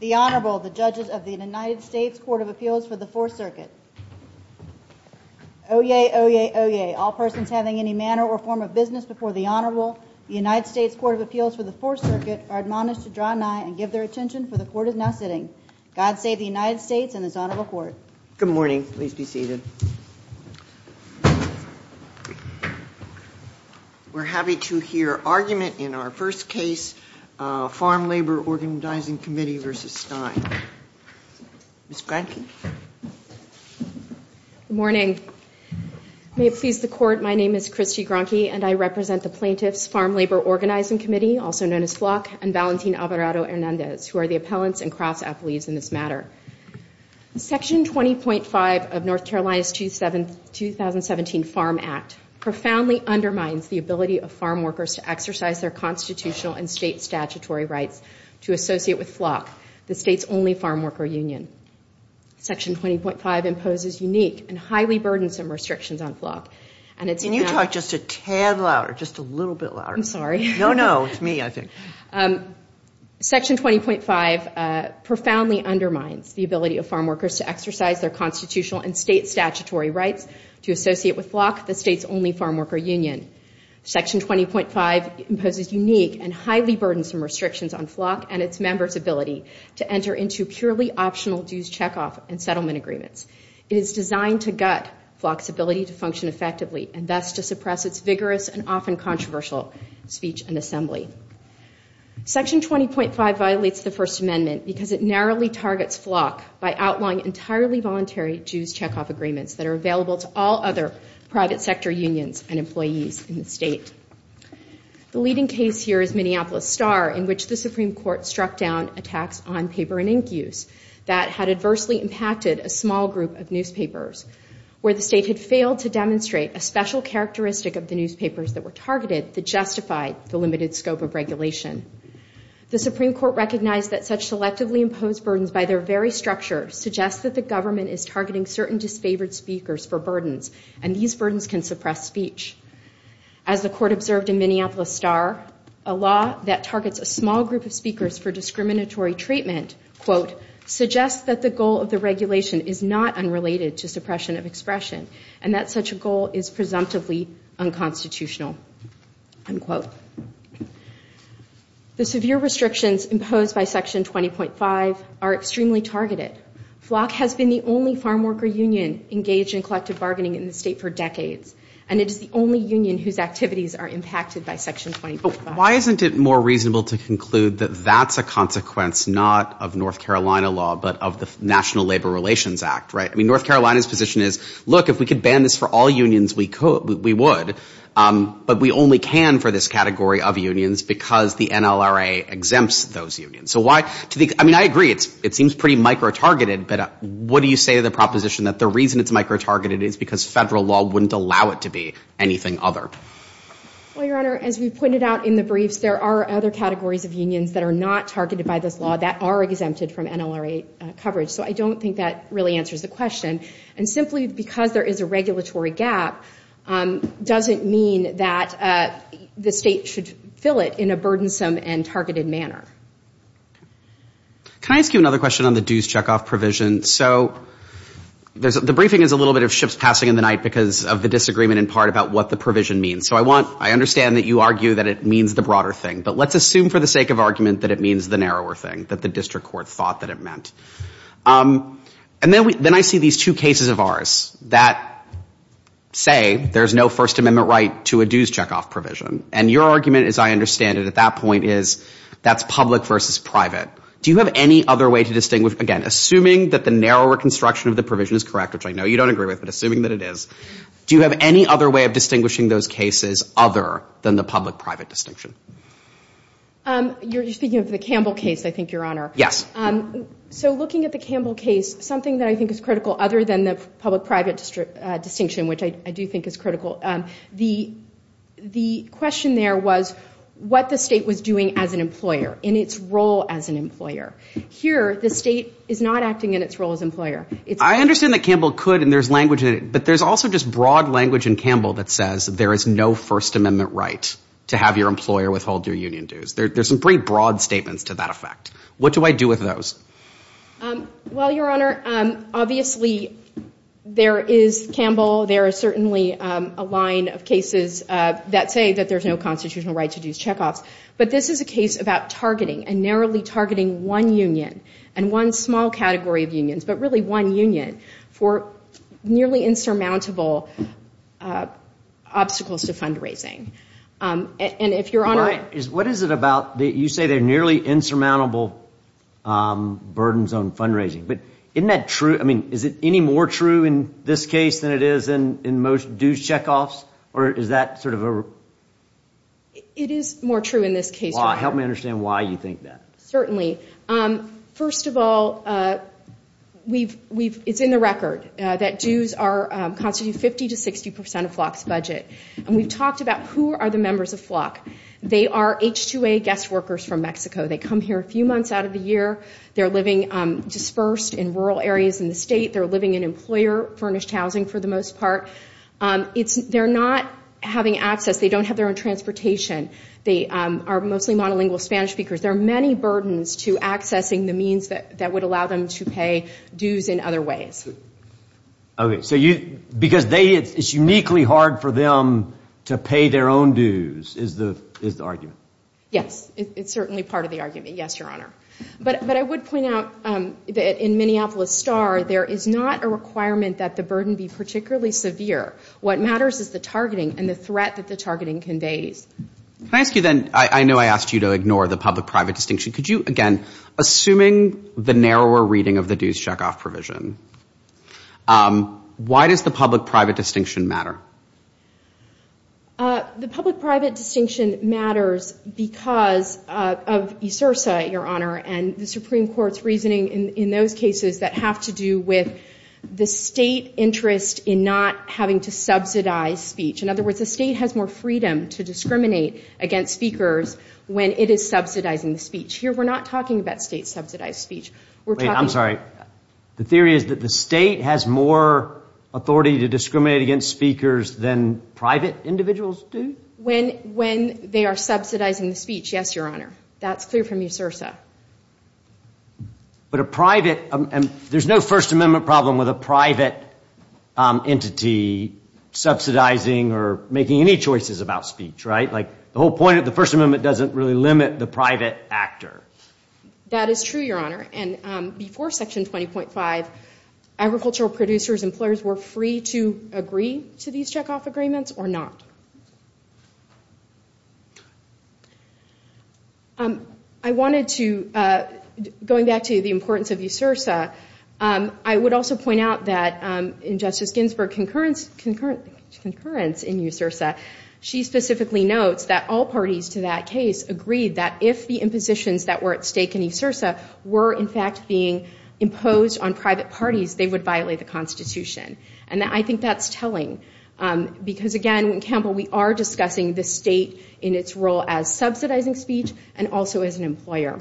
The Honorable, the judges of the United States Court of Appeals for the Fourth Circuit. Oyez, oyez, oyez. All persons having any manner or form of business before the Honorable, the United States Court of Appeals for the Fourth Circuit, are admonished to draw nigh and give their attention, for the Court is now sitting. God save the United States and His Honorable Court. Good morning. Please be seated. We're happy to hear argument in our first case, Farm Labor Organizing Committee v. Stein. Ms. Gronke. Good morning. May it please the Court, my name is Christy Gronke and I represent the plaintiffs, Farm Labor Organizing Committee, also known as FLOC, and Valentin Alvarado Hernandez, who are the appellants and cross-athletes in this matter. Section 20.5 of North Carolina's 2017 Farm Act profoundly undermines the ability of farm workers to exercise their constitutional and state statutory rights to associate with FLOC, the state's only farm worker union. Section 20.5 imposes unique and highly burdensome restrictions on FLOC. Can you talk just a tad louder, just a little bit louder? I'm sorry. No, no, it's me, I think. Section 20.5 profoundly undermines the ability of farm workers to exercise their constitutional and state statutory rights to associate with FLOC, the state's only farm worker union. Section 20.5 imposes unique and highly burdensome restrictions on FLOC and its members' ability to enter into purely optional dues checkoff and settlement agreements. It is designed to gut FLOC's ability to function effectively and thus to suppress its vigorous and often controversial speech and assembly. Section 20.5 violates the First Amendment because it narrowly targets FLOC by outlawing entirely voluntary dues checkoff agreements that are available to all other private sector unions and employees in the state. The leading case here is Minneapolis Star, in which the Supreme Court struck down a tax on paper and ink use that had adversely impacted a small group of newspapers, where the state had failed to demonstrate a special characteristic of the newspapers that were targeted that justified the limited scope of regulation. The Supreme Court recognized that such selectively imposed burdens by their very structure suggests that the government is targeting certain disfavored speakers for burdens, and these burdens can suppress speech. As the court observed in Minneapolis Star, a law that targets a small group of speakers for discriminatory treatment, quote, suggests that the goal of the regulation is not unrelated to suppression of expression, and that such a goal is presumptively unconstitutional, unquote. The severe restrictions imposed by Section 20.5 are extremely targeted. FLOC has been the only farm worker union engaged in collective bargaining in the state for decades, and it is the only union whose activities are impacted by Section 20.5. Why isn't it more reasonable to conclude that that's a consequence not of North Carolina law, but of the National Labor Relations Act, right? I mean, North Carolina's position is, look, if we could ban this for all unions, we would, but we only can for this category of unions because the NLRA exempts those unions. So why, I mean, I agree, it seems pretty micro-targeted, but what do you say to the proposition that the reason it's micro-targeted is because federal law wouldn't allow it to be anything other? Well, Your Honor, as we pointed out in the briefs, there are other categories of unions that are not targeted by this law that are exempted from NLRA coverage. So I don't think that really answers the question. And simply because there is a regulatory gap doesn't mean that the state should fill it in a burdensome and targeted manner. Can I ask you another question on the dues checkoff provision? So the briefing is a little bit of ships passing in the night because of the disagreement in part about what the provision means. So I understand that you argue that it means the broader thing, but let's assume for the sake of argument that it means the narrower thing, that the district court thought that it meant. And then I see these two cases of ours that say there's no First Amendment right to a dues checkoff provision. And your argument, as I understand it at that point, is that's public versus private. Do you have any other way to distinguish? Again, assuming that the narrower construction of the provision is correct, which I know you don't agree with, but assuming that it is, do you have any other way of distinguishing those cases other than the public-private distinction? You're speaking of the Campbell case, I think, Your Honor. Yes. So looking at the Campbell case, something that I think is critical other than the public-private distinction, which I do think is critical, the question there was what the state was doing as an employer in its role as an employer. Here, the state is not acting in its role as an employer. I understand that Campbell could and there's language in it, but there's also just broad language in Campbell that says there is no First Amendment right to have your employer withhold your union dues. What do I do with those? Well, Your Honor, obviously there is Campbell. There is certainly a line of cases that say that there's no constitutional right to dues checkoffs. But this is a case about targeting and narrowly targeting one union and one small category of unions, but really one union for nearly insurmountable obstacles to fundraising. What is it about that you say there are nearly insurmountable burdens on fundraising? But isn't that true? I mean, is it any more true in this case than it is in most dues checkoffs? Or is that sort of a... It is more true in this case, Your Honor. Help me understand why you think that. Certainly. First of all, it's in the record that dues constitute 50 to 60 percent of FLOC's budget. And we've talked about who are the members of FLOC. They are H-2A guest workers from Mexico. They come here a few months out of the year. They're living dispersed in rural areas in the state. They're living in employer-furnished housing for the most part. They're not having access. They don't have their own transportation. They are mostly monolingual Spanish speakers. There are many burdens to accessing the means that would allow them to pay dues in other ways. Okay. Because it's uniquely hard for them to pay their own dues is the argument. Yes. It's certainly part of the argument. Yes, Your Honor. But I would point out that in Minneapolis STAR, there is not a requirement that the burden be particularly severe. What matters is the targeting and the threat that the targeting conveys. Can I ask you then? I know I asked you to ignore the public-private distinction. Could you, again, assuming the narrower reading of the dues checkoff provision, why does the public-private distinction matter? The public-private distinction matters because of ESRSA, Your Honor, and the Supreme Court's reasoning in those cases that have to do with the state interest in not having to subsidize speech. In other words, the state has more freedom to discriminate against speakers when it is subsidizing the speech. Here we're not talking about state-subsidized speech. Wait, I'm sorry. The theory is that the state has more authority to discriminate against speakers than private individuals do? When they are subsidizing the speech, yes, Your Honor. That's clear from ESRSA. But a private, there's no First Amendment problem with a private entity subsidizing or making any choices about speech, right? Like the whole point of the First Amendment doesn't really limit the private actor. That is true, Your Honor, and before Section 20.5, agricultural producers, employers were free to agree to these checkoff agreements or not. I wanted to, going back to the importance of ESRSA, I would also point out that in Justice Ginsburg's concurrence in ESRSA, she specifically notes that all parties to that case agreed that if the impositions that were at stake in ESRSA were in fact being imposed on private parties, they would violate the Constitution. And I think that's telling. Because again, Campbell, we are discussing the state in its role as subsidizing speech and also as an employer.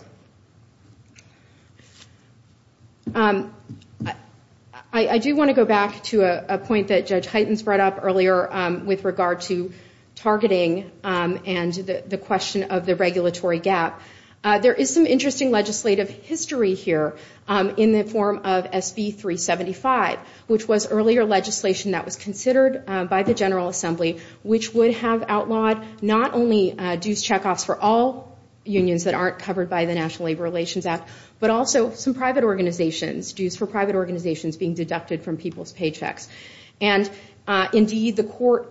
I do want to go back to a point that Judge Hyten brought up earlier with regard to targeting and the question of the regulatory gap. There is some interesting legislative history here in the form of SB 375, which was earlier legislation that was considered by the General Assembly, which would have outlawed not only dues checkoffs for all unions that aren't covered by the National Labor Relations Act, but also some private organizations, dues for private organizations being deducted from people's paychecks. And indeed, the court,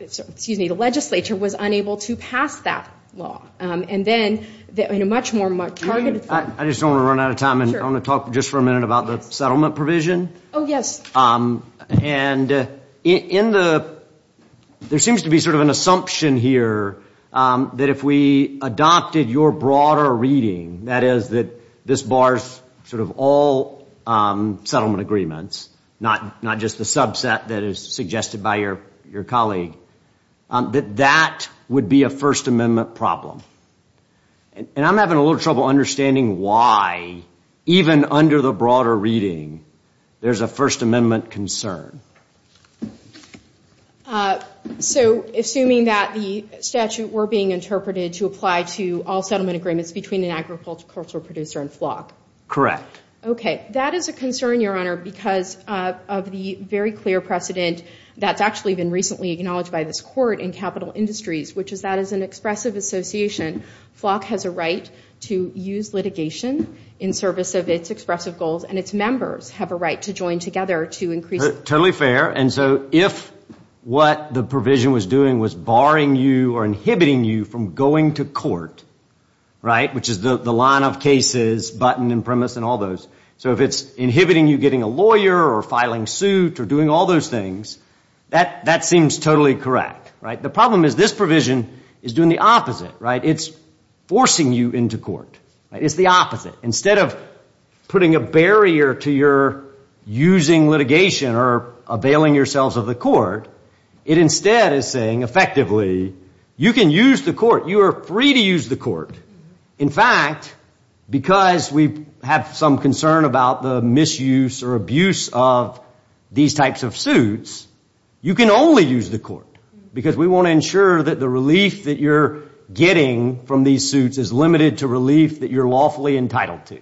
excuse me, the legislature was unable to pass that law. And then in a much more targeted form. I just don't want to run out of time. I want to talk just for a minute about the settlement provision. Oh, yes. And there seems to be sort of an assumption here that if we adopted your broader reading, that is that this bars sort of all settlement agreements, not just the subset that is suggested by your colleague, that that would be a First Amendment problem. And I'm having a little trouble understanding why, even under the broader reading, there's a First Amendment concern. So, assuming that the statute were being interpreted to apply to all settlement agreements between an agricultural producer and flock? Okay. That is a concern, Your Honor, because of the very clear precedent that's actually been recently acknowledged by this court in capital industries, which is that as an expressive association, flock has a right to use litigation in service of its expressive goals, and its members have a right to join together to increase. Totally fair. And so if what the provision was doing was barring you or inhibiting you from going to court, right, which is the line of cases, button and premise and all those. So if it's inhibiting you getting a lawyer or filing suit or doing all those things, that seems totally correct, right? The problem is this provision is doing the opposite, right? It's forcing you into court. It's the opposite. Instead of putting a barrier to your using litigation or availing yourselves of the court, it instead is saying, effectively, you can use the court. You are free to use the court. In fact, because we have some concern about the misuse or abuse of these types of suits, you can only use the court because we want to ensure that the relief that you're getting from these suits is limited to relief that you're lawfully entitled to.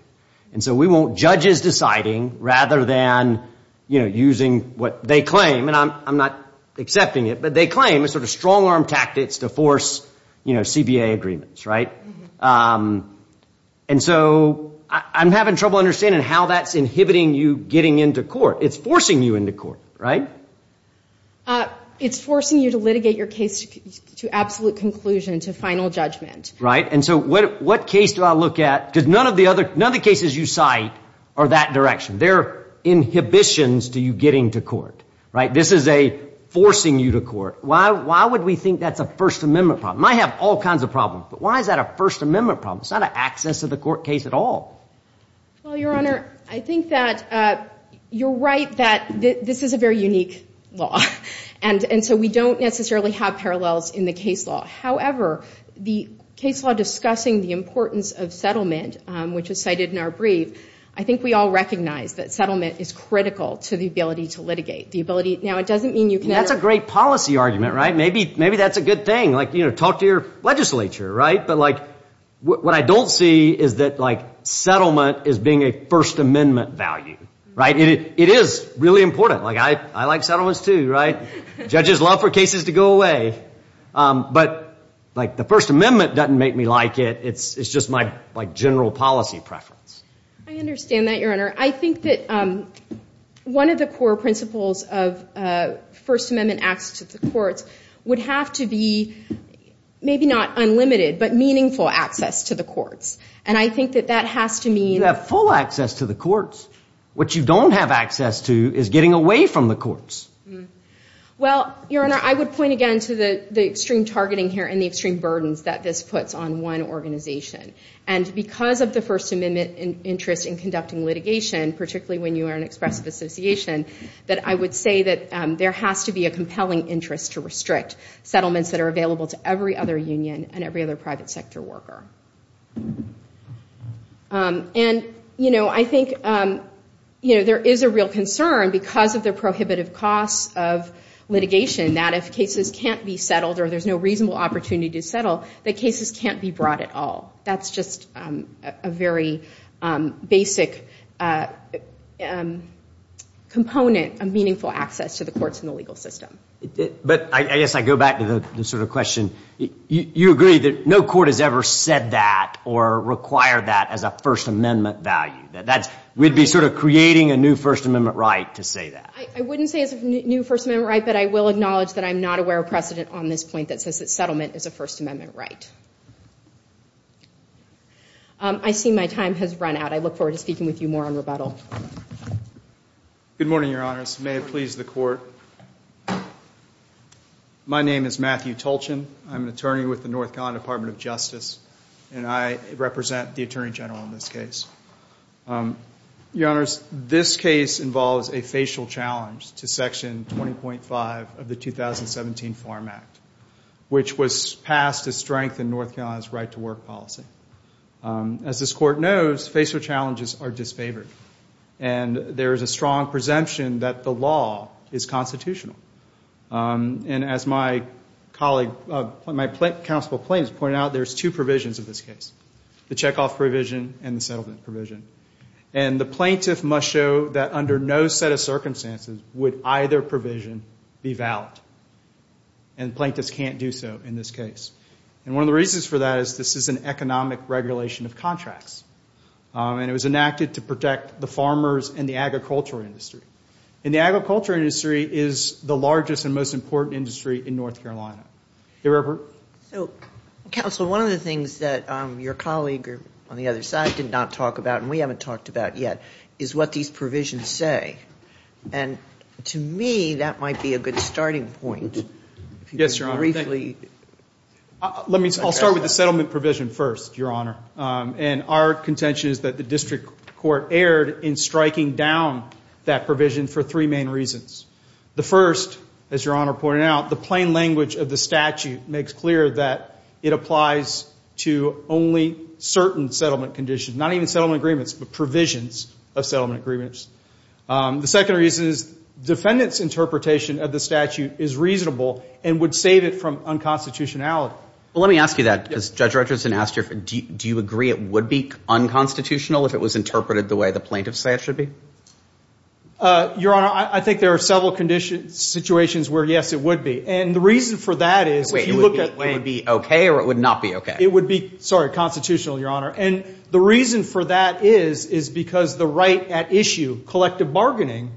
And so we want judges deciding rather than using what they claim, and I'm not accepting it, but they claim a sort of strong-arm tactics to force, you know, CBA agreements, right? And so I'm having trouble understanding how that's inhibiting you getting into court. It's forcing you into court, right? It's forcing you to litigate your case to absolute conclusion, to final judgment. Right, and so what case do I look at? Because none of the other cases you cite are that direction. They're inhibitions to you getting to court, right? This is a forcing you to court. Why would we think that's a First Amendment problem? It might have all kinds of problems, but why is that a First Amendment problem? It's not an access to the court case at all. Well, Your Honor, I think that you're right that this is a very unique law, and so we don't necessarily have parallels in the case law. However, the case law discussing the importance of settlement, which is cited in our brief, I think we all recognize that settlement is critical to the ability to litigate, the ability—now it doesn't mean you can ever— That's a great policy argument, right? Maybe that's a good thing. Like, you know, talk to your legislature, right? But, like, what I don't see is that, like, settlement as being a First Amendment value, right? It is really important. Like, I like settlements too, right? Judges love for cases to go away. But, like, the First Amendment doesn't make me like it. It's just my, like, general policy preference. I understand that, Your Honor. I think that one of the core principles of First Amendment access to the courts would have to be maybe not unlimited but meaningful access to the courts. And I think that that has to mean— You have full access to the courts. What you don't have access to is getting away from the courts. Well, Your Honor, I would point again to the extreme targeting here and the extreme burdens that this puts on one organization. And because of the First Amendment interest in conducting litigation, particularly when you are an expressive association, that I would say that there has to be a compelling interest to restrict settlements that are available to every other union and every other private sector worker. And, you know, I think, you know, there is a real concern because of the prohibitive costs of litigation that if cases can't be settled or there's no reasonable opportunity to settle, that cases can't be brought at all. That's just a very basic component of meaningful access to the courts in the legal system. But I guess I go back to the sort of question. You agree that no court has ever said that or required that as a First Amendment value. We'd be sort of creating a new First Amendment right to say that. I wouldn't say it's a new First Amendment right, but I will acknowledge that I'm not aware of precedent on this point that says that settlement is a First Amendment right. I see my time has run out. I look forward to speaking with you more on rebuttal. Good morning, Your Honors. May it please the Court. My name is Matthew Tolchin. I'm an attorney with the North Carolina Department of Justice, and I represent the Attorney General in this case. Your Honors, this case involves a facial challenge to Section 20.5 of the 2017 Farm Act, which was passed to strengthen North Carolina's right-to-work policy. As this Court knows, facial challenges are disfavored, and there is a strong presumption that the law is constitutional. And as my colleague, my counsel Plains pointed out, there's two provisions of this case, the checkoff provision and the settlement provision. And the plaintiff must show that under no set of circumstances would either provision be valid, and plaintiffs can't do so in this case. And one of the reasons for that is this is an economic regulation of contracts, and it was enacted to protect the farmers and the agricultural industry. And the agricultural industry is the largest and most important industry in North Carolina. So, counsel, one of the things that your colleague on the other side did not talk about and we haven't talked about yet is what these provisions say. And to me, that might be a good starting point. Yes, Your Honor. Briefly. I'll start with the settlement provision first, Your Honor. And our contention is that the district court erred in striking down that provision for three main reasons. The first, as Your Honor pointed out, the plain language of the statute makes clear that it applies to only certain settlement conditions, not even settlement agreements, but provisions of settlement agreements. The second reason is defendants' interpretation of the statute is reasonable and would save it from unconstitutionality. Well, let me ask you that because Judge Richardson asked you, do you agree it would be unconstitutional if it was interpreted the way the plaintiffs say it should be? Your Honor, I think there are several situations where, yes, it would be. And the reason for that is if you look at Wait, it would be okay or it would not be okay? It would be, sorry, constitutional, Your Honor. And the reason for that is because the right at issue, collective bargaining,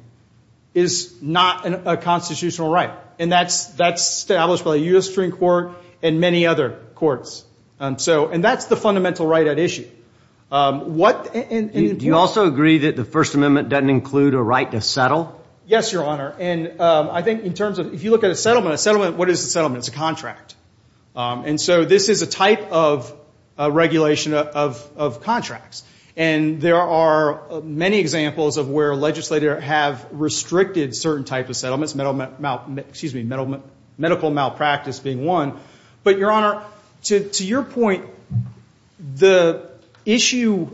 is not a constitutional right. And that's established by the U.S. Supreme Court and many other courts. And that's the fundamental right at issue. Do you also agree that the First Amendment doesn't include a right to settle? Yes, Your Honor. And I think in terms of if you look at a settlement, a settlement, what is a settlement? It's a contract. And so this is a type of regulation of contracts. And there are many examples of where a legislator have restricted certain types of settlements, excuse me, medical malpractice being one. But, Your Honor, to your point, the behavior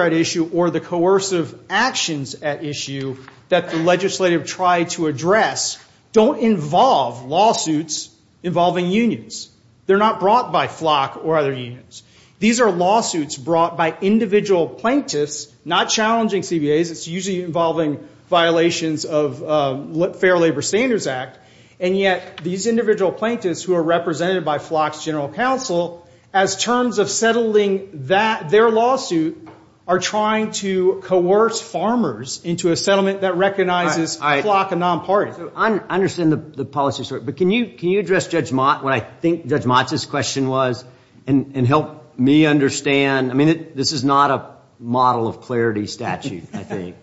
at issue or the coercive actions at issue that the legislator tried to address don't involve lawsuits involving unions. They're not brought by FLOC or other unions. These are lawsuits brought by individual plaintiffs, not challenging CBAs. It's usually involving violations of Fair Labor Standards Act. And yet these individual plaintiffs who are represented by FLOC's general counsel, as terms of settling their lawsuit, are trying to coerce farmers into a settlement that recognizes FLOC and non-parties. I understand the policy. But can you address, Judge Mott, what I think Judge Mott's question was and help me understand? I mean, this is not a model of clarity statute, I think,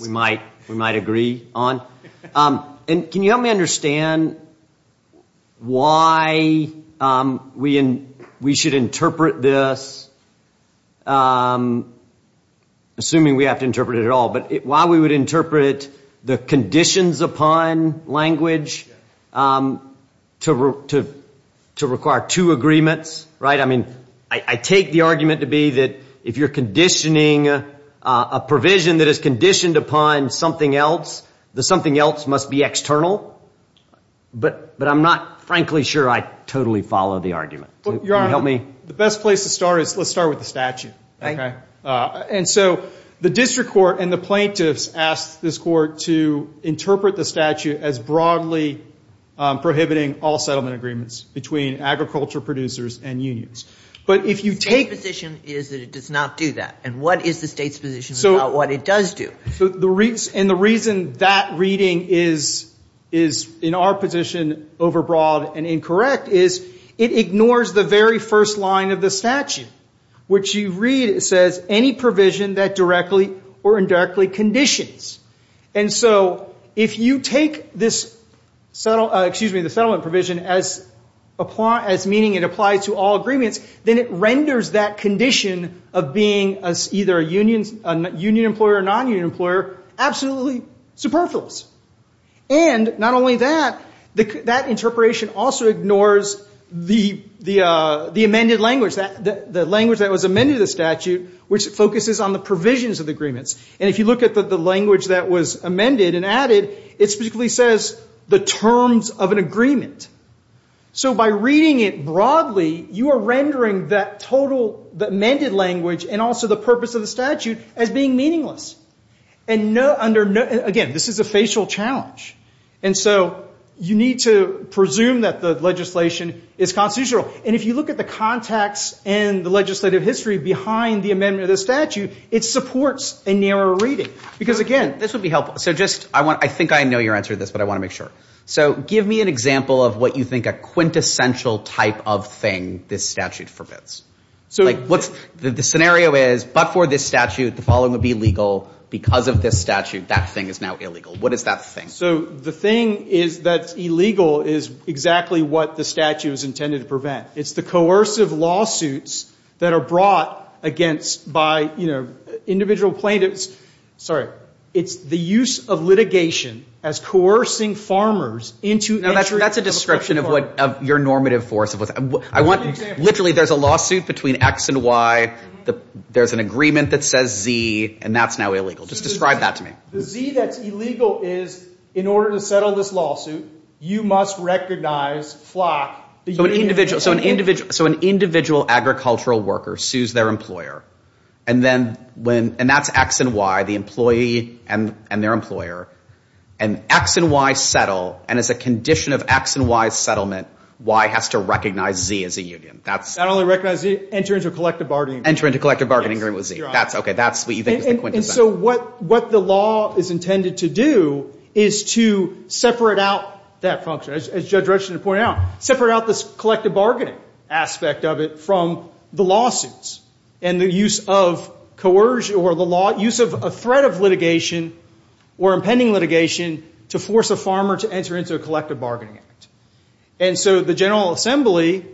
we might agree on. And can you help me understand why we should interpret this, assuming we have to interpret it at all, but why we would interpret the conditions upon language to require two agreements, right? I mean, I take the argument to be that if you're conditioning a provision that is conditioned upon something else, that something else must be external. But I'm not, frankly, sure I totally follow the argument. Can you help me? Your Honor, the best place to start is let's start with the statute. And so the district court and the plaintiffs asked this court to interpret the statute as broadly prohibiting all settlement agreements between agriculture producers and unions. State's position is that it does not do that. And what is the state's position about what it does do? And the reason that reading is, in our position, overbroad and incorrect is it ignores the very first line of the statute, which you read, it says, any provision that directly or indirectly conditions. And so if you take this settlement provision as meaning it applies to all agreements, then it renders that condition of being either a union employer or non-union employer absolutely superfluous. And not only that, that interpretation also ignores the amended language, the language that was amended in the statute, which focuses on the provisions of the agreements. And if you look at the language that was amended and added, it specifically says the terms of an agreement. So by reading it broadly, you are rendering that total amended language and also the purpose of the statute as being meaningless. And again, this is a facial challenge. And so you need to presume that the legislation is constitutional. And if you look at the context and the legislative history behind the amendment of the statute, it supports a narrower reading because, again, this would be helpful. So I think I know your answer to this, but I want to make sure. So give me an example of what you think a quintessential type of thing this statute forbids. The scenario is, but for this statute, the following would be legal. Because of this statute, that thing is now illegal. What is that thing? So the thing is that illegal is exactly what the statute is intended to prevent. It's the coercive lawsuits that are brought against by individual plaintiffs. It's the use of litigation as coercing farmers into entry. Now, that's a description of your normative force. Literally, there's a lawsuit between X and Y. There's an agreement that says Z, and that's now illegal. Just describe that to me. The Z that's illegal is in order to settle this lawsuit, you must recognize, flock. So an individual agricultural worker sues their employer. And that's X and Y, the employee and their employer. And X and Y settle. And as a condition of X and Y's settlement, Y has to recognize Z as a union. Not only recognize Z, enter into a collective bargaining agreement. Enter into a collective bargaining agreement with Z. That's what you think is the quintessential. And so what the law is intended to do is to separate out that function. Separate out this collective bargaining aspect of it from the lawsuits. And the use of coercion or the use of a threat of litigation or impending litigation to force a farmer to enter into a collective bargaining act. And so the General Assembly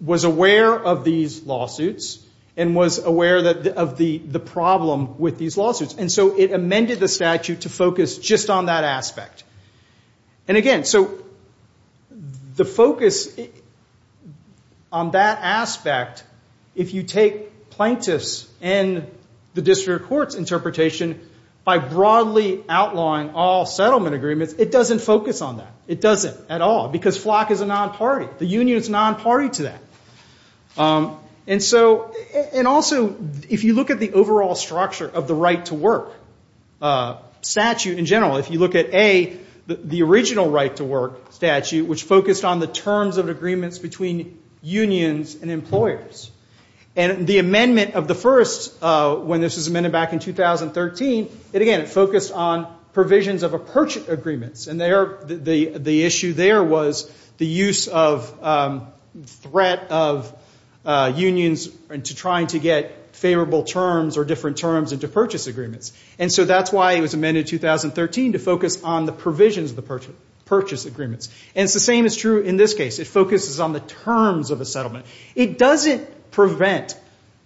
was aware of these lawsuits and was aware of the problem with these lawsuits. And so it amended the statute to focus just on that aspect. And again, so the focus on that aspect, if you take plaintiffs and the district court's interpretation, by broadly outlawing all settlement agreements, it doesn't focus on that. It doesn't at all. Because flock is a non-party. The union is non-party to that. And also, if you look at the overall structure of the right to work statute in general, if you look at, A, the original right to work statute, which focused on the terms of agreements between unions and employers. And the amendment of the first, when this was amended back in 2013, it, again, focused on provisions of approach agreements. And the issue there was the use of threat of unions into trying to get favorable terms or different terms into purchase agreements. And so that's why it was amended in 2013 to focus on the provisions of the purchase agreements. And it's the same is true in this case. It focuses on the terms of a settlement. It doesn't prevent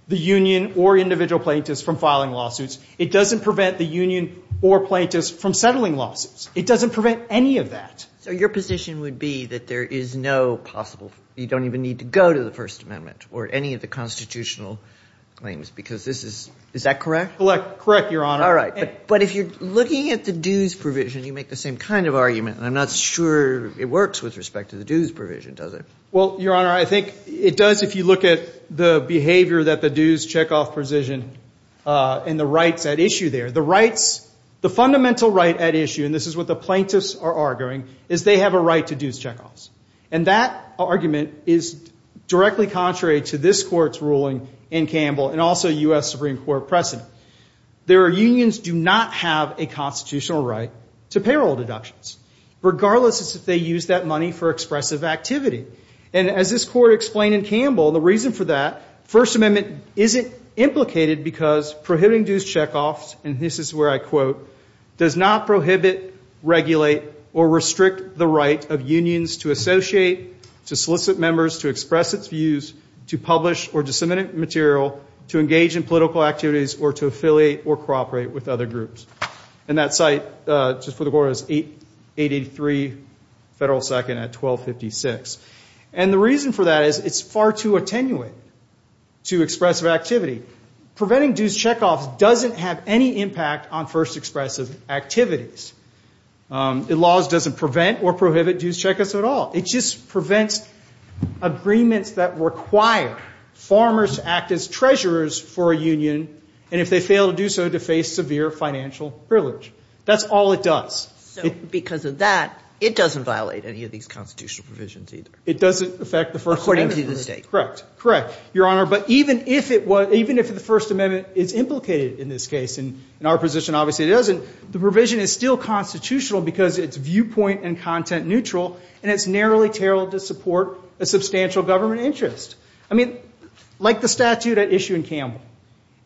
the union or individual plaintiffs from filing lawsuits. It doesn't prevent the union or plaintiffs from settling lawsuits. It doesn't prevent any of that. So your position would be that there is no possible, you don't even need to go to the First Amendment or any of the constitutional claims, because this is, is that correct? Correct, Your Honor. All right. But if you're looking at the dues provision, you make the same kind of argument, and I'm not sure it works with respect to the dues provision, does it? Well, Your Honor, I think it does if you look at the behavior that the dues checkoff provision and the rights at issue there. The rights, the fundamental right at issue, and this is what the plaintiffs are arguing, is they have a right to dues checkoffs. And that argument is directly contrary to this Court's ruling in Campbell and also U.S. Supreme Court precedent. Their unions do not have a constitutional right to payroll deductions, regardless if they use that money for expressive activity. And as this Court explained in Campbell, the reason for that, First Amendment isn't implicated because prohibiting dues checkoffs, and this is where I quote, does not prohibit, regulate, or restrict the right of unions to associate, to solicit members, to express its views, to publish or disseminate material, to engage in political activities, or to affiliate or cooperate with other groups. And that site, just for the record, is 883 Federal 2nd at 1256. And the reason for that is it's far too attenuate to expressive activity. Preventing dues checkoffs doesn't have any impact on first expressive activities. The laws doesn't prevent or prohibit dues checkoffs at all. It just prevents agreements that require farmers to act as treasurers for a union, and if they fail to do so, to face severe financial privilege. That's all it does. So because of that, it doesn't violate any of these constitutional provisions either. It doesn't affect the First Amendment. According to the state. Correct. Correct. Your Honor, but even if it was, even if the First Amendment is implicated in this case, and in our position obviously it isn't, the provision is still constitutional because it's viewpoint and content neutral, and it's narrowly tailored to support a substantial government interest. I mean, like the statute at issue in Campbell.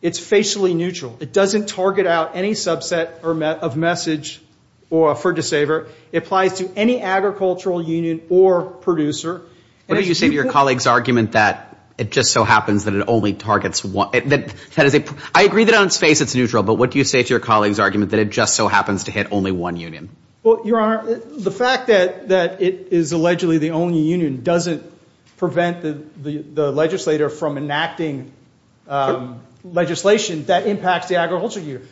It's facially neutral. It doesn't target out any subset of message for a disabler. It applies to any agricultural union or producer. What do you say to your colleague's argument that it just so happens that it only targets one? I agree that on its face it's neutral, but what do you say to your colleague's argument that it just so happens to hit only one union? Well, Your Honor, the fact that it is allegedly the only union doesn't prevent the legislator from enacting legislation that impacts the agriculture union.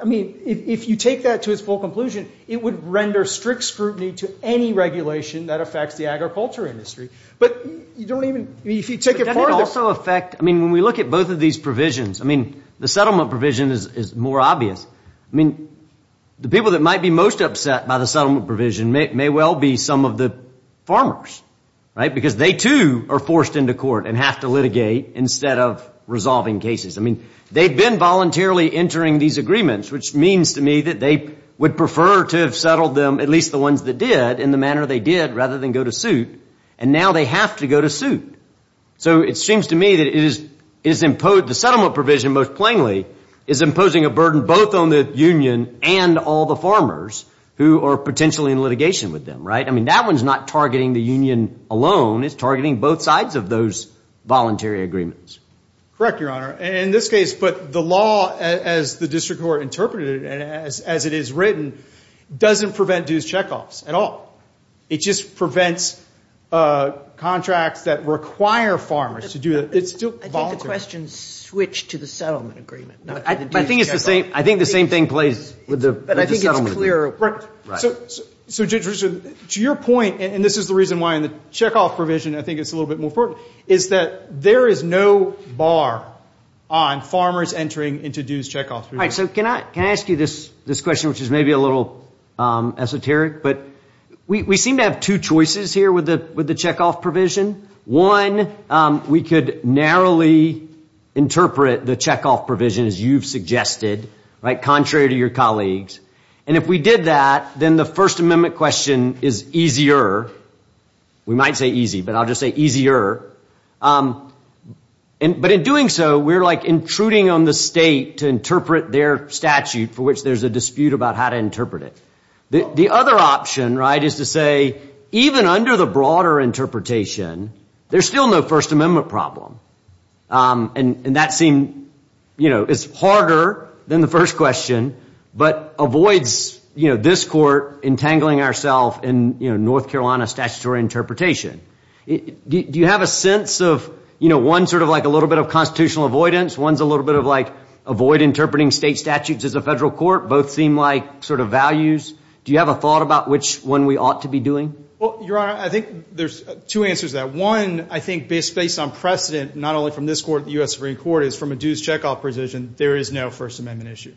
I mean, if you take that to its full conclusion, it would render strict scrutiny to any regulation that affects the agriculture industry. But you don't even, if you take it further. But doesn't it also affect, I mean, when we look at both of these provisions, I mean, the settlement provision is more obvious. I mean, the people that might be most upset by the settlement provision may well be some of the farmers, right, because they, too, are forced into court and have to litigate instead of resolving cases. I mean, they've been voluntarily entering these agreements, which means to me that they would prefer to have settled them, at least the ones that did, in the manner they did rather than go to suit. And now they have to go to suit. So it seems to me that the settlement provision, most plainly, is imposing a burden both on the union and all the farmers who are potentially in litigation with them, right? I mean, that one's not targeting the union alone. It's targeting both sides of those voluntary agreements. Correct, Your Honor. And in this case, but the law, as the district court interpreted it and as it is written, doesn't prevent dues checkoffs at all. It just prevents contracts that require farmers to do it. It's still voluntary. I think the question switched to the settlement agreement, not to the dues checkoff. I think it's the same. I think the same thing plays with the settlement agreement. But I think it's clearer. Right. So, Judge Richard, to your point, and this is the reason why in the checkoff provision, I think it's a little bit more important, is that there is no bar on farmers entering into dues checkoff. All right. So can I ask you this question, which is maybe a little esoteric? But we seem to have two choices here with the checkoff provision. One, we could narrowly interpret the checkoff provision, as you've suggested, right, contrary to your colleagues. And if we did that, then the First Amendment question is easier. We might say easy, but I'll just say easier. But in doing so, we're like intruding on the state to interpret their statute for which there's a dispute about how to interpret it. The other option, right, is to say, even under the broader interpretation, there's still no First Amendment problem. And that seems, you know, it's harder than the first question, but avoids, you know, this court entangling ourself in, you know, North Carolina statutory interpretation. Do you have a sense of, you know, one's sort of like a little bit of constitutional avoidance, one's a little bit of like avoid interpreting state statutes as a federal court? Both seem like sort of values. Do you have a thought about which one we ought to be doing? Well, Your Honor, I think there's two answers to that. One, I think, based on precedent, not only from this court, the U.S. Supreme Court, is from a dues checkoff position, there is no First Amendment issue.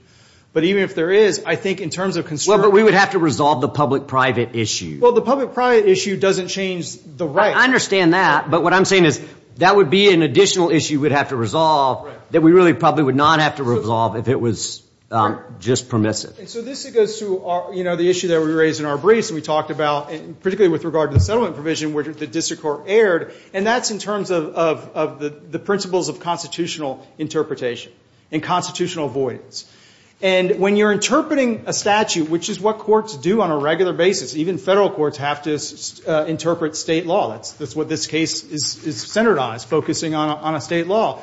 But even if there is, I think in terms of constructing. Well, but we would have to resolve the public-private issue. Well, the public-private issue doesn't change the right. I understand that. But what I'm saying is that would be an additional issue we'd have to resolve that we really probably would not have to resolve if it was just permissive. And so this goes to, you know, the issue that we raised in our briefs and we talked about, particularly with regard to the settlement provision where the district court erred. And that's in terms of the principles of constitutional interpretation and constitutional avoidance. And when you're interpreting a statute, which is what courts do on a regular basis, even federal courts have to interpret state law. That's what this case is centered on. It's focusing on a state law.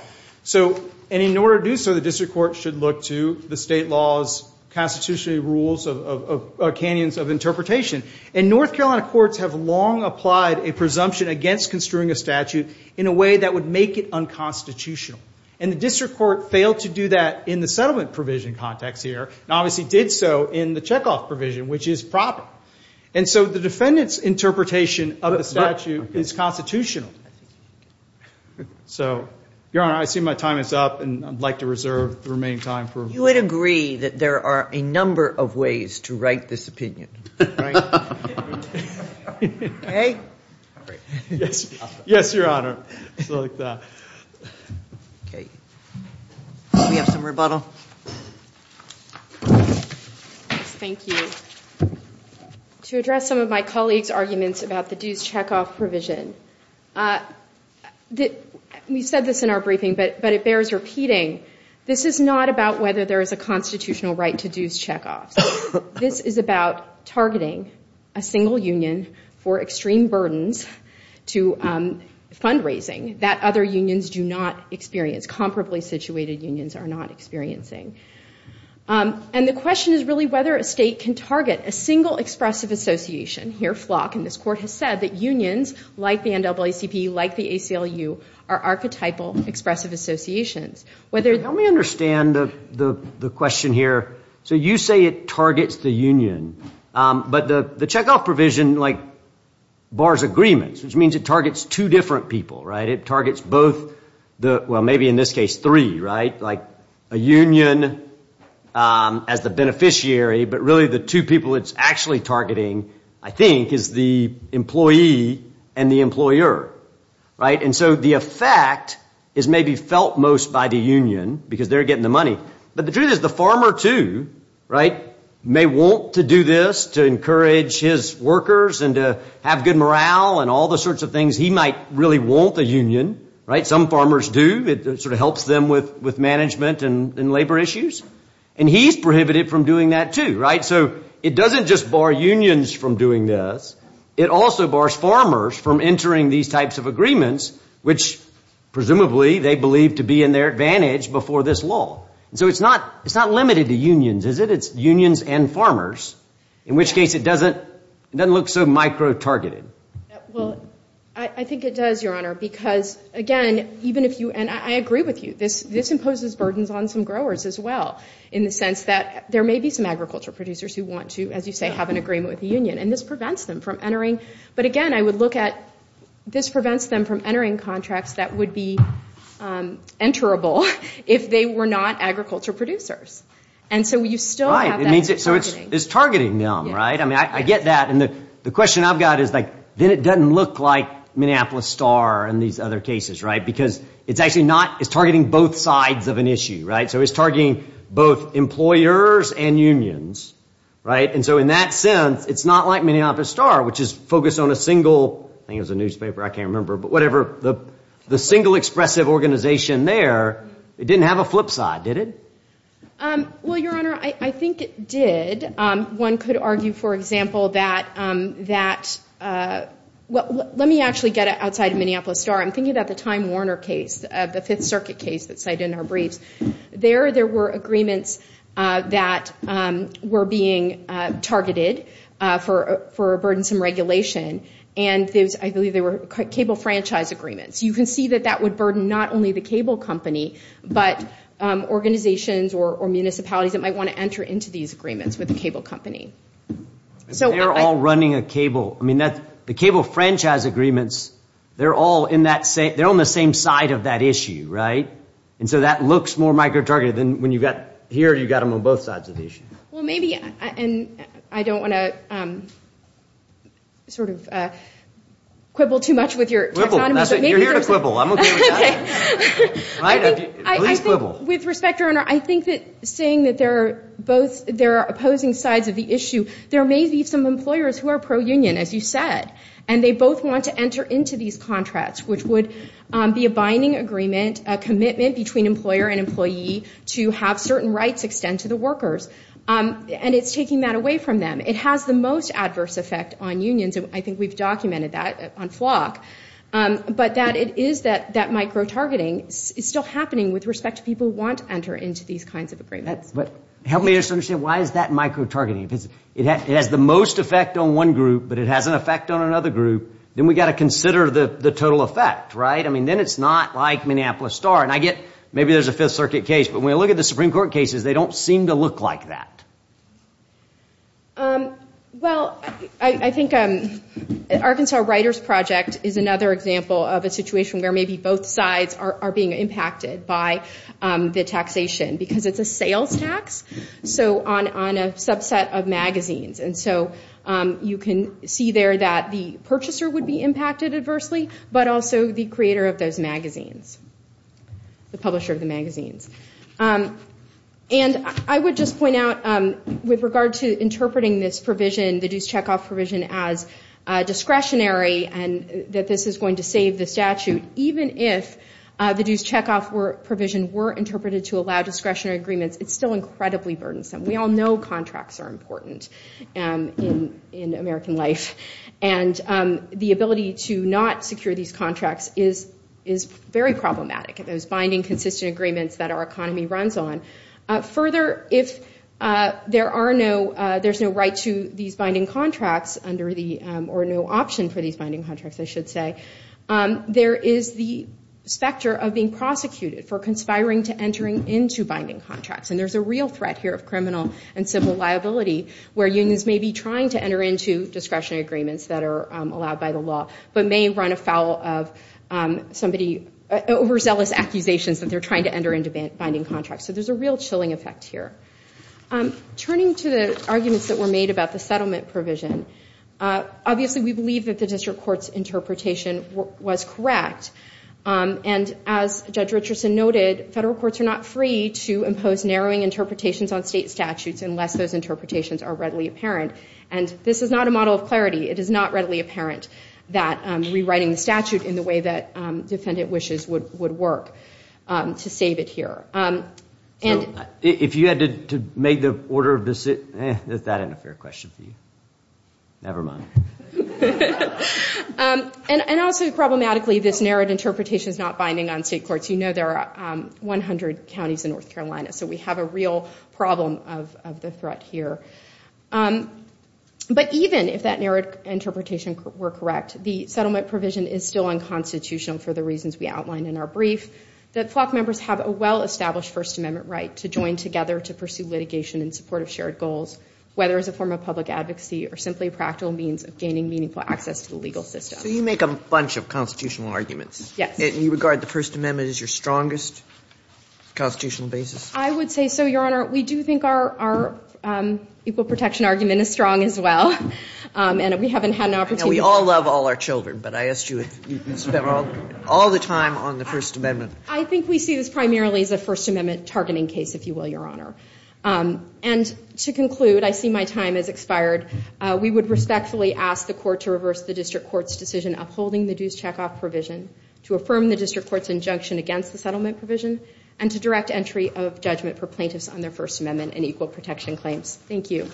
And in order to do so, the district court should look to the state law's constitutional rules of canyons of interpretation. And North Carolina courts have long applied a presumption against construing a statute in a way that would make it unconstitutional. And the district court failed to do that in the settlement provision context here and obviously did so in the checkoff provision, which is proper. And so the defendant's interpretation of the statute is constitutional. So, Your Honor, I see my time is up and I'd like to reserve the remaining time. You would agree that there are a number of ways to write this opinion, right? Okay? Yes, Your Honor. Okay. Do we have some rebuttal? Thank you. To address some of my colleagues' arguments about the dues checkoff provision, we said this in our briefing, but it bears repeating. This is not about whether there is a constitutional right to dues checkoffs. This is about targeting a single union for extreme burdens to fundraising that other unions do not experience, comparably situated unions are not experiencing. And the question is really whether a state can target a single expressive association. Here, Flock in this court has said that unions, like the NAACP, like the ACLU, are archetypal expressive associations. Help me understand the question here. So you say it targets the union. But the checkoff provision, like, bars agreements, which means it targets two different people, right? It targets both the, well, maybe in this case, three, right? Like a union as the beneficiary, but really the two people it's actually targeting, I think, is the employee and the employer, right? And so the effect is maybe felt most by the union because they're getting the money. But the truth is the farmer, too, right, may want to do this to encourage his workers and to have good morale and all the sorts of things he might really want a union, right? Some farmers do. It sort of helps them with management and labor issues. And he's prohibited from doing that, too, right? So it doesn't just bar unions from doing this. It also bars farmers from entering these types of agreements, which presumably they believe to be in their advantage before this law. And so it's not limited to unions, is it? It's unions and farmers, in which case it doesn't look so micro-targeted. Well, I think it does, Your Honor, because, again, even if you ‑‑ and I agree with you. This imposes burdens on some growers as well in the sense that there may be some agriculture producers who want to, as you say, have an agreement with the union. And this prevents them from entering. But, again, I would look at this prevents them from entering contracts that would be enterable if they were not agriculture producers. And so you still have that targeting. Right. So it's targeting them, right? I mean, I get that. And the question I've got is, like, then it doesn't look like Minneapolis Star and these other cases, right? Because it's actually not ‑‑ it's targeting both sides of an issue, right? So it's targeting both employers and unions, right? And so in that sense, it's not like Minneapolis Star, which is focused on a single ‑‑ I think it was a newspaper. I can't remember. But whatever. The single expressive organization there, it didn't have a flip side, did it? Well, Your Honor, I think it did. One could argue, for example, that ‑‑ let me actually get outside of Minneapolis Star. I'm thinking about the Time Warner case, the Fifth Circuit case that's cited in our briefs. There, there were agreements that were being targeted for burdensome regulation. And I believe they were cable franchise agreements. You can see that that would burden not only the cable company, but organizations or municipalities that might want to enter into these agreements with the cable company. They're all running a cable. I mean, the cable franchise agreements, they're all in that same ‑‑ they're on the same side of that issue, right? And so that looks more micro‑targeted than when you've got here, you've got them on both sides of the issue. Well, maybe, and I don't want to sort of quibble too much with your technology. Quibble. You're here to quibble. I'm okay with that. Please quibble. With respect, Your Honor, I think that saying that they're both opposing sides of the issue, there may be some employers who are pro‑union, as you said, and they both want to enter into these contracts, which would be a binding agreement, a commitment between employer and employee to have certain rights extend to the workers. And it's taking that away from them. It has the most adverse effect on unions, and I think we've documented that on FLOC. But that it is that micro‑targeting is still happening with respect to people who want to enter into these kinds of agreements. Help me just understand, why is that micro‑targeting? If it has the most effect on one group, but it has an effect on another group, then we've got to consider the total effect, right? I mean, then it's not like Minneapolis Star. And I get, maybe there's a Fifth Circuit case, but when I look at the Supreme Court cases, they don't seem to look like that. Well, I think Arkansas Writers Project is another example of a situation where maybe both sides are being impacted by the taxation. Because it's a sales tax, so on a subset of magazines. And so you can see there that the purchaser would be impacted adversely, but also the creator of those magazines, the publisher of the magazines. And I would just point out, with regard to interpreting this provision, the dues checkoff provision, as discretionary, and that this is going to save the statute, even if the dues checkoff provision were interpreted to allow discretionary agreements, it's still incredibly burdensome. We all know contracts are important in American life. And the ability to not secure these contracts is very problematic. Those binding, consistent agreements that our economy runs on. Further, if there's no right to these binding contracts, or no option for these binding contracts, I should say, there is the specter of being prosecuted for conspiring to entering into binding contracts. And there's a real threat here of criminal and civil liability, where unions may be trying to enter into discretionary agreements that are allowed by the law, but may run afoul of somebody's overzealous accusations that they're trying to enter into binding contracts. So there's a real chilling effect here. Turning to the arguments that were made about the settlement provision, obviously we believe that the district court's interpretation was correct. And as Judge Richardson noted, federal courts are not free to impose narrowing interpretations on state statutes unless those interpretations are readily apparent. And this is not a model of clarity. It is not readily apparent that rewriting the statute in the way that defendant wishes would work to save it here. If you had to make the order of decision, that isn't a fair question for you. Never mind. And also, problematically, this narrowed interpretation is not binding on state courts. You know there are 100 counties in North Carolina, so we have a real problem of the threat here. But even if that narrowed interpretation were correct, the settlement provision is still unconstitutional for the reasons we outlined in our brief, that flock members have a well-established First Amendment right to join together to pursue litigation in support of shared goals, whether as a form of public advocacy or simply a practical means of gaining meaningful access to the legal system. So you make a bunch of constitutional arguments. Yes. And you regard the First Amendment as your strongest constitutional basis? I would say so, Your Honor. We do think our equal protection argument is strong as well. And we haven't had an opportunity to- We all love all our children, but I asked you if you spent all the time on the First Amendment. I think we see this primarily as a First Amendment targeting case, if you will, Your Honor. And to conclude, I see my time has expired. We would respectfully ask the court to reverse the district court's decision upholding the dues checkoff provision, to affirm the district court's injunction against the settlement provision, and to direct entry of judgment for plaintiffs on their First Amendment and equal protection claims. Thank you.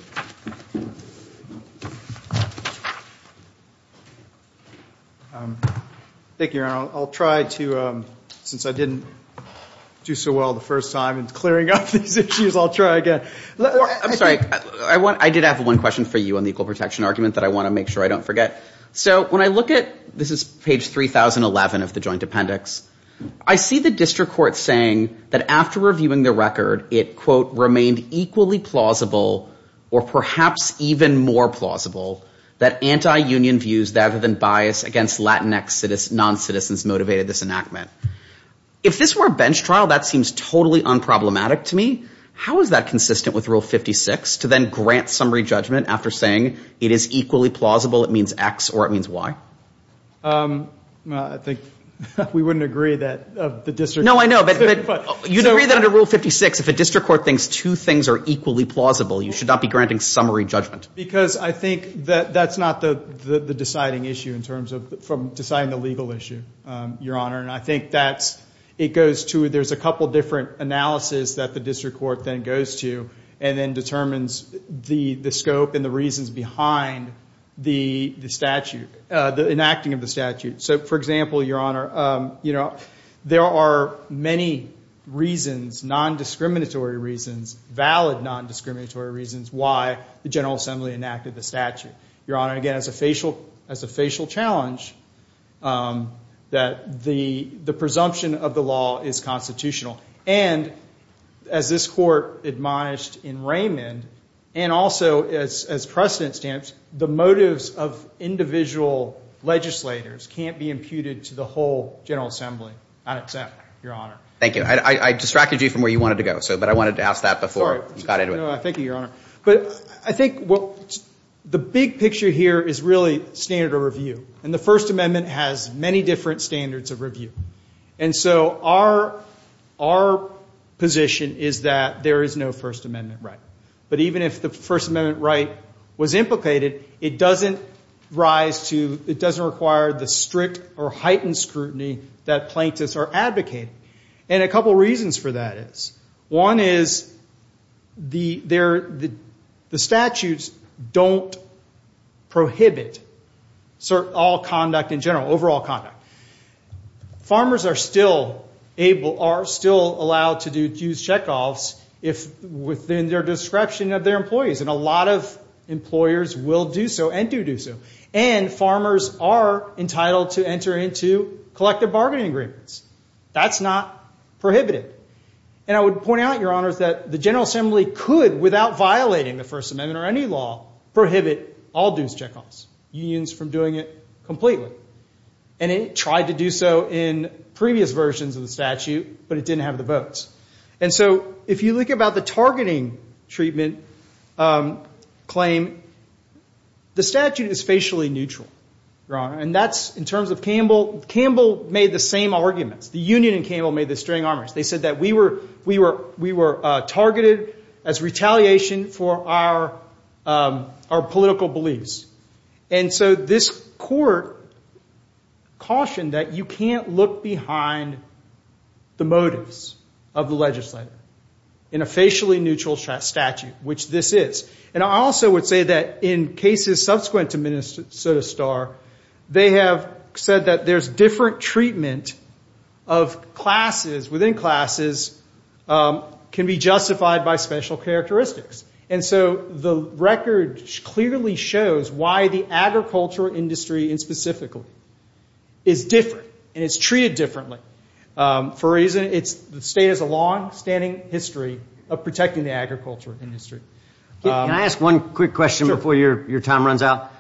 Thank you, Your Honor. I'll try to, since I didn't do so well the first time in clearing up these issues, I'll try again. I'm sorry. I did have one question for you on the equal protection argument that I want to make sure I don't forget. So when I look at, this is page 3011 of the joint appendix, I see the district court saying that after reviewing the record, it, quote, remained equally plausible, or perhaps even more plausible, that anti-union views rather than bias against Latinx noncitizens motivated this enactment. If this were a bench trial, that seems totally unproblematic to me. How is that consistent with Rule 56, to then grant summary judgment after saying it is equally plausible, it means X or it means Y? I think we wouldn't agree that of the district court. No, I know, but you'd agree that under Rule 56, if a district court thinks two things are equally plausible, you should not be granting summary judgment. Because I think that that's not the deciding issue in terms of, from deciding the legal issue, Your Honor. And I think that's, it goes to, there's a couple different analysis that the district court then goes to and then determines the scope and the reasons behind the statute, the enacting of the statute. So, for example, Your Honor, you know, there are many reasons, non-discriminatory reasons, valid non-discriminatory reasons why the General Assembly enacted the statute. Your Honor, again, as a facial challenge, that the presumption of the law is constitutional. And as this court admonished in Raymond, and also as precedent stands, the motives of individual legislators can't be imputed to the whole General Assembly. I accept, Your Honor. Thank you. I distracted you from where you wanted to go, but I wanted to ask that before you got into it. No, thank you, Your Honor. But I think the big picture here is really standard of review. And the First Amendment has many different standards of review. And so our position is that there is no First Amendment right. But even if the First Amendment right was implicated, it doesn't rise to, it doesn't require the strict or heightened scrutiny that plaintiffs are advocating. And a couple reasons for that is, one is the statutes don't prohibit all conduct in general, overall conduct. Farmers are still allowed to use checkoffs within their description of their employees, and a lot of employers will do so and do do so. And farmers are entitled to enter into collective bargaining agreements. That's not prohibited. And I would point out, Your Honor, that the General Assembly could, without violating the First Amendment or any law, prohibit all dues checkoffs, unions from doing it completely. And it tried to do so in previous versions of the statute, but it didn't have the votes. And so if you look about the targeting treatment claim, the statute is facially neutral, Your Honor. And that's in terms of Campbell. Campbell made the same arguments. The union in Campbell made the same arguments. They said that we were targeted as retaliation for our political beliefs. And so this court cautioned that you can't look behind the motives of the legislator in a facially neutral statute, which this is. And I also would say that in cases subsequent to Minnesota Star, they have said that there's different treatment of classes within classes can be justified by special characteristics. And so the record clearly shows why the agriculture industry, and specifically, is different and is treated differently. The state has a longstanding history of protecting the agriculture industry. Can I ask one quick question before your time runs out?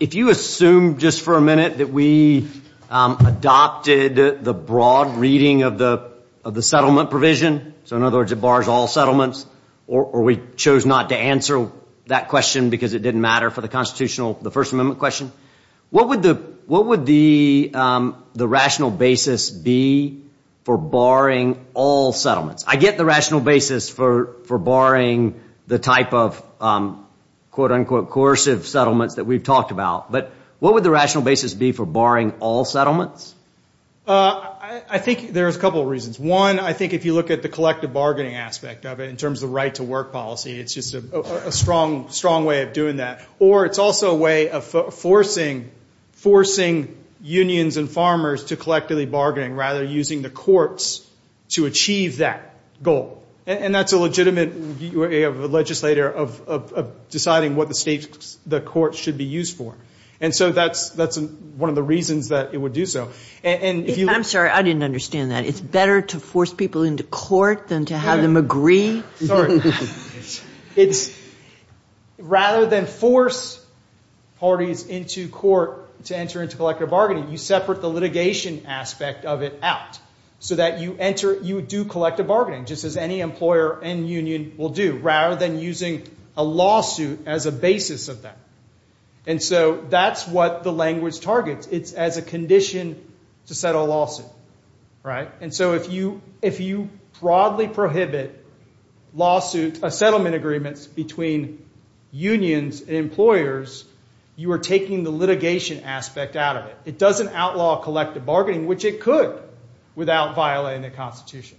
If you assume just for a minute that we adopted the broad reading of the settlement provision, so in other words, it bars all settlements, or we chose not to answer that question because it didn't matter for the Constitutional, the First Amendment question, what would the rational basis be for barring all settlements? I get the rational basis for barring the type of quote-unquote coercive settlements that we've talked about, but what would the rational basis be for barring all settlements? I think there's a couple of reasons. One, I think if you look at the collective bargaining aspect of it, in terms of the right-to-work policy, it's just a strong way of doing that. Or it's also a way of forcing unions and farmers to collectively bargain, rather using the courts to achieve that goal. And that's a legitimate view of a legislator of deciding what the courts should be used for. And so that's one of the reasons that it would do so. I'm sorry, I didn't understand that. It's better to force people into court than to have them agree? Sorry. Rather than force parties into court to enter into collective bargaining, you separate the litigation aspect of it out so that you do collective bargaining, just as any employer and union will do, rather than using a lawsuit as a basis of that. And so that's what the language targets. It's as a condition to settle a lawsuit. And so if you broadly prohibit settlement agreements between unions and employers, you are taking the litigation aspect out of it. It doesn't outlaw collective bargaining, which it could without violating the Constitution.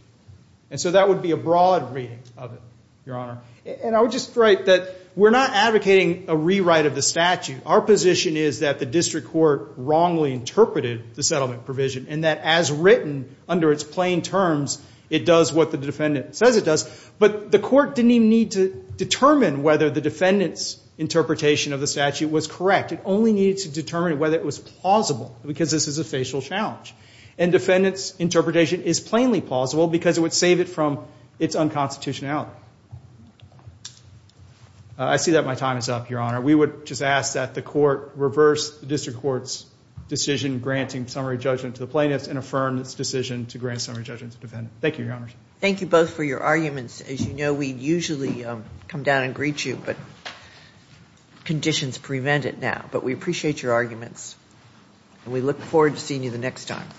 And so that would be a broad reading of it, Your Honor. And I would just write that we're not advocating a rewrite of the statute. Our position is that the district court wrongly interpreted the settlement provision and that as written under its plain terms, it does what the defendant says it does. But the court didn't even need to determine whether the defendant's interpretation of the statute was correct. It only needed to determine whether it was plausible because this is a facial challenge. And defendant's interpretation is plainly plausible because it would save it from its unconstitutionality. I see that my time is up, Your Honor. We would just ask that the court reverse the district court's decision granting summary judgment to the plaintiffs and affirm its decision to grant summary judgment to the defendant. Thank you, Your Honor. Thank you both for your arguments. As you know, we usually come down and greet you, but conditions prevent it now. But we appreciate your arguments, and we look forward to seeing you the next time.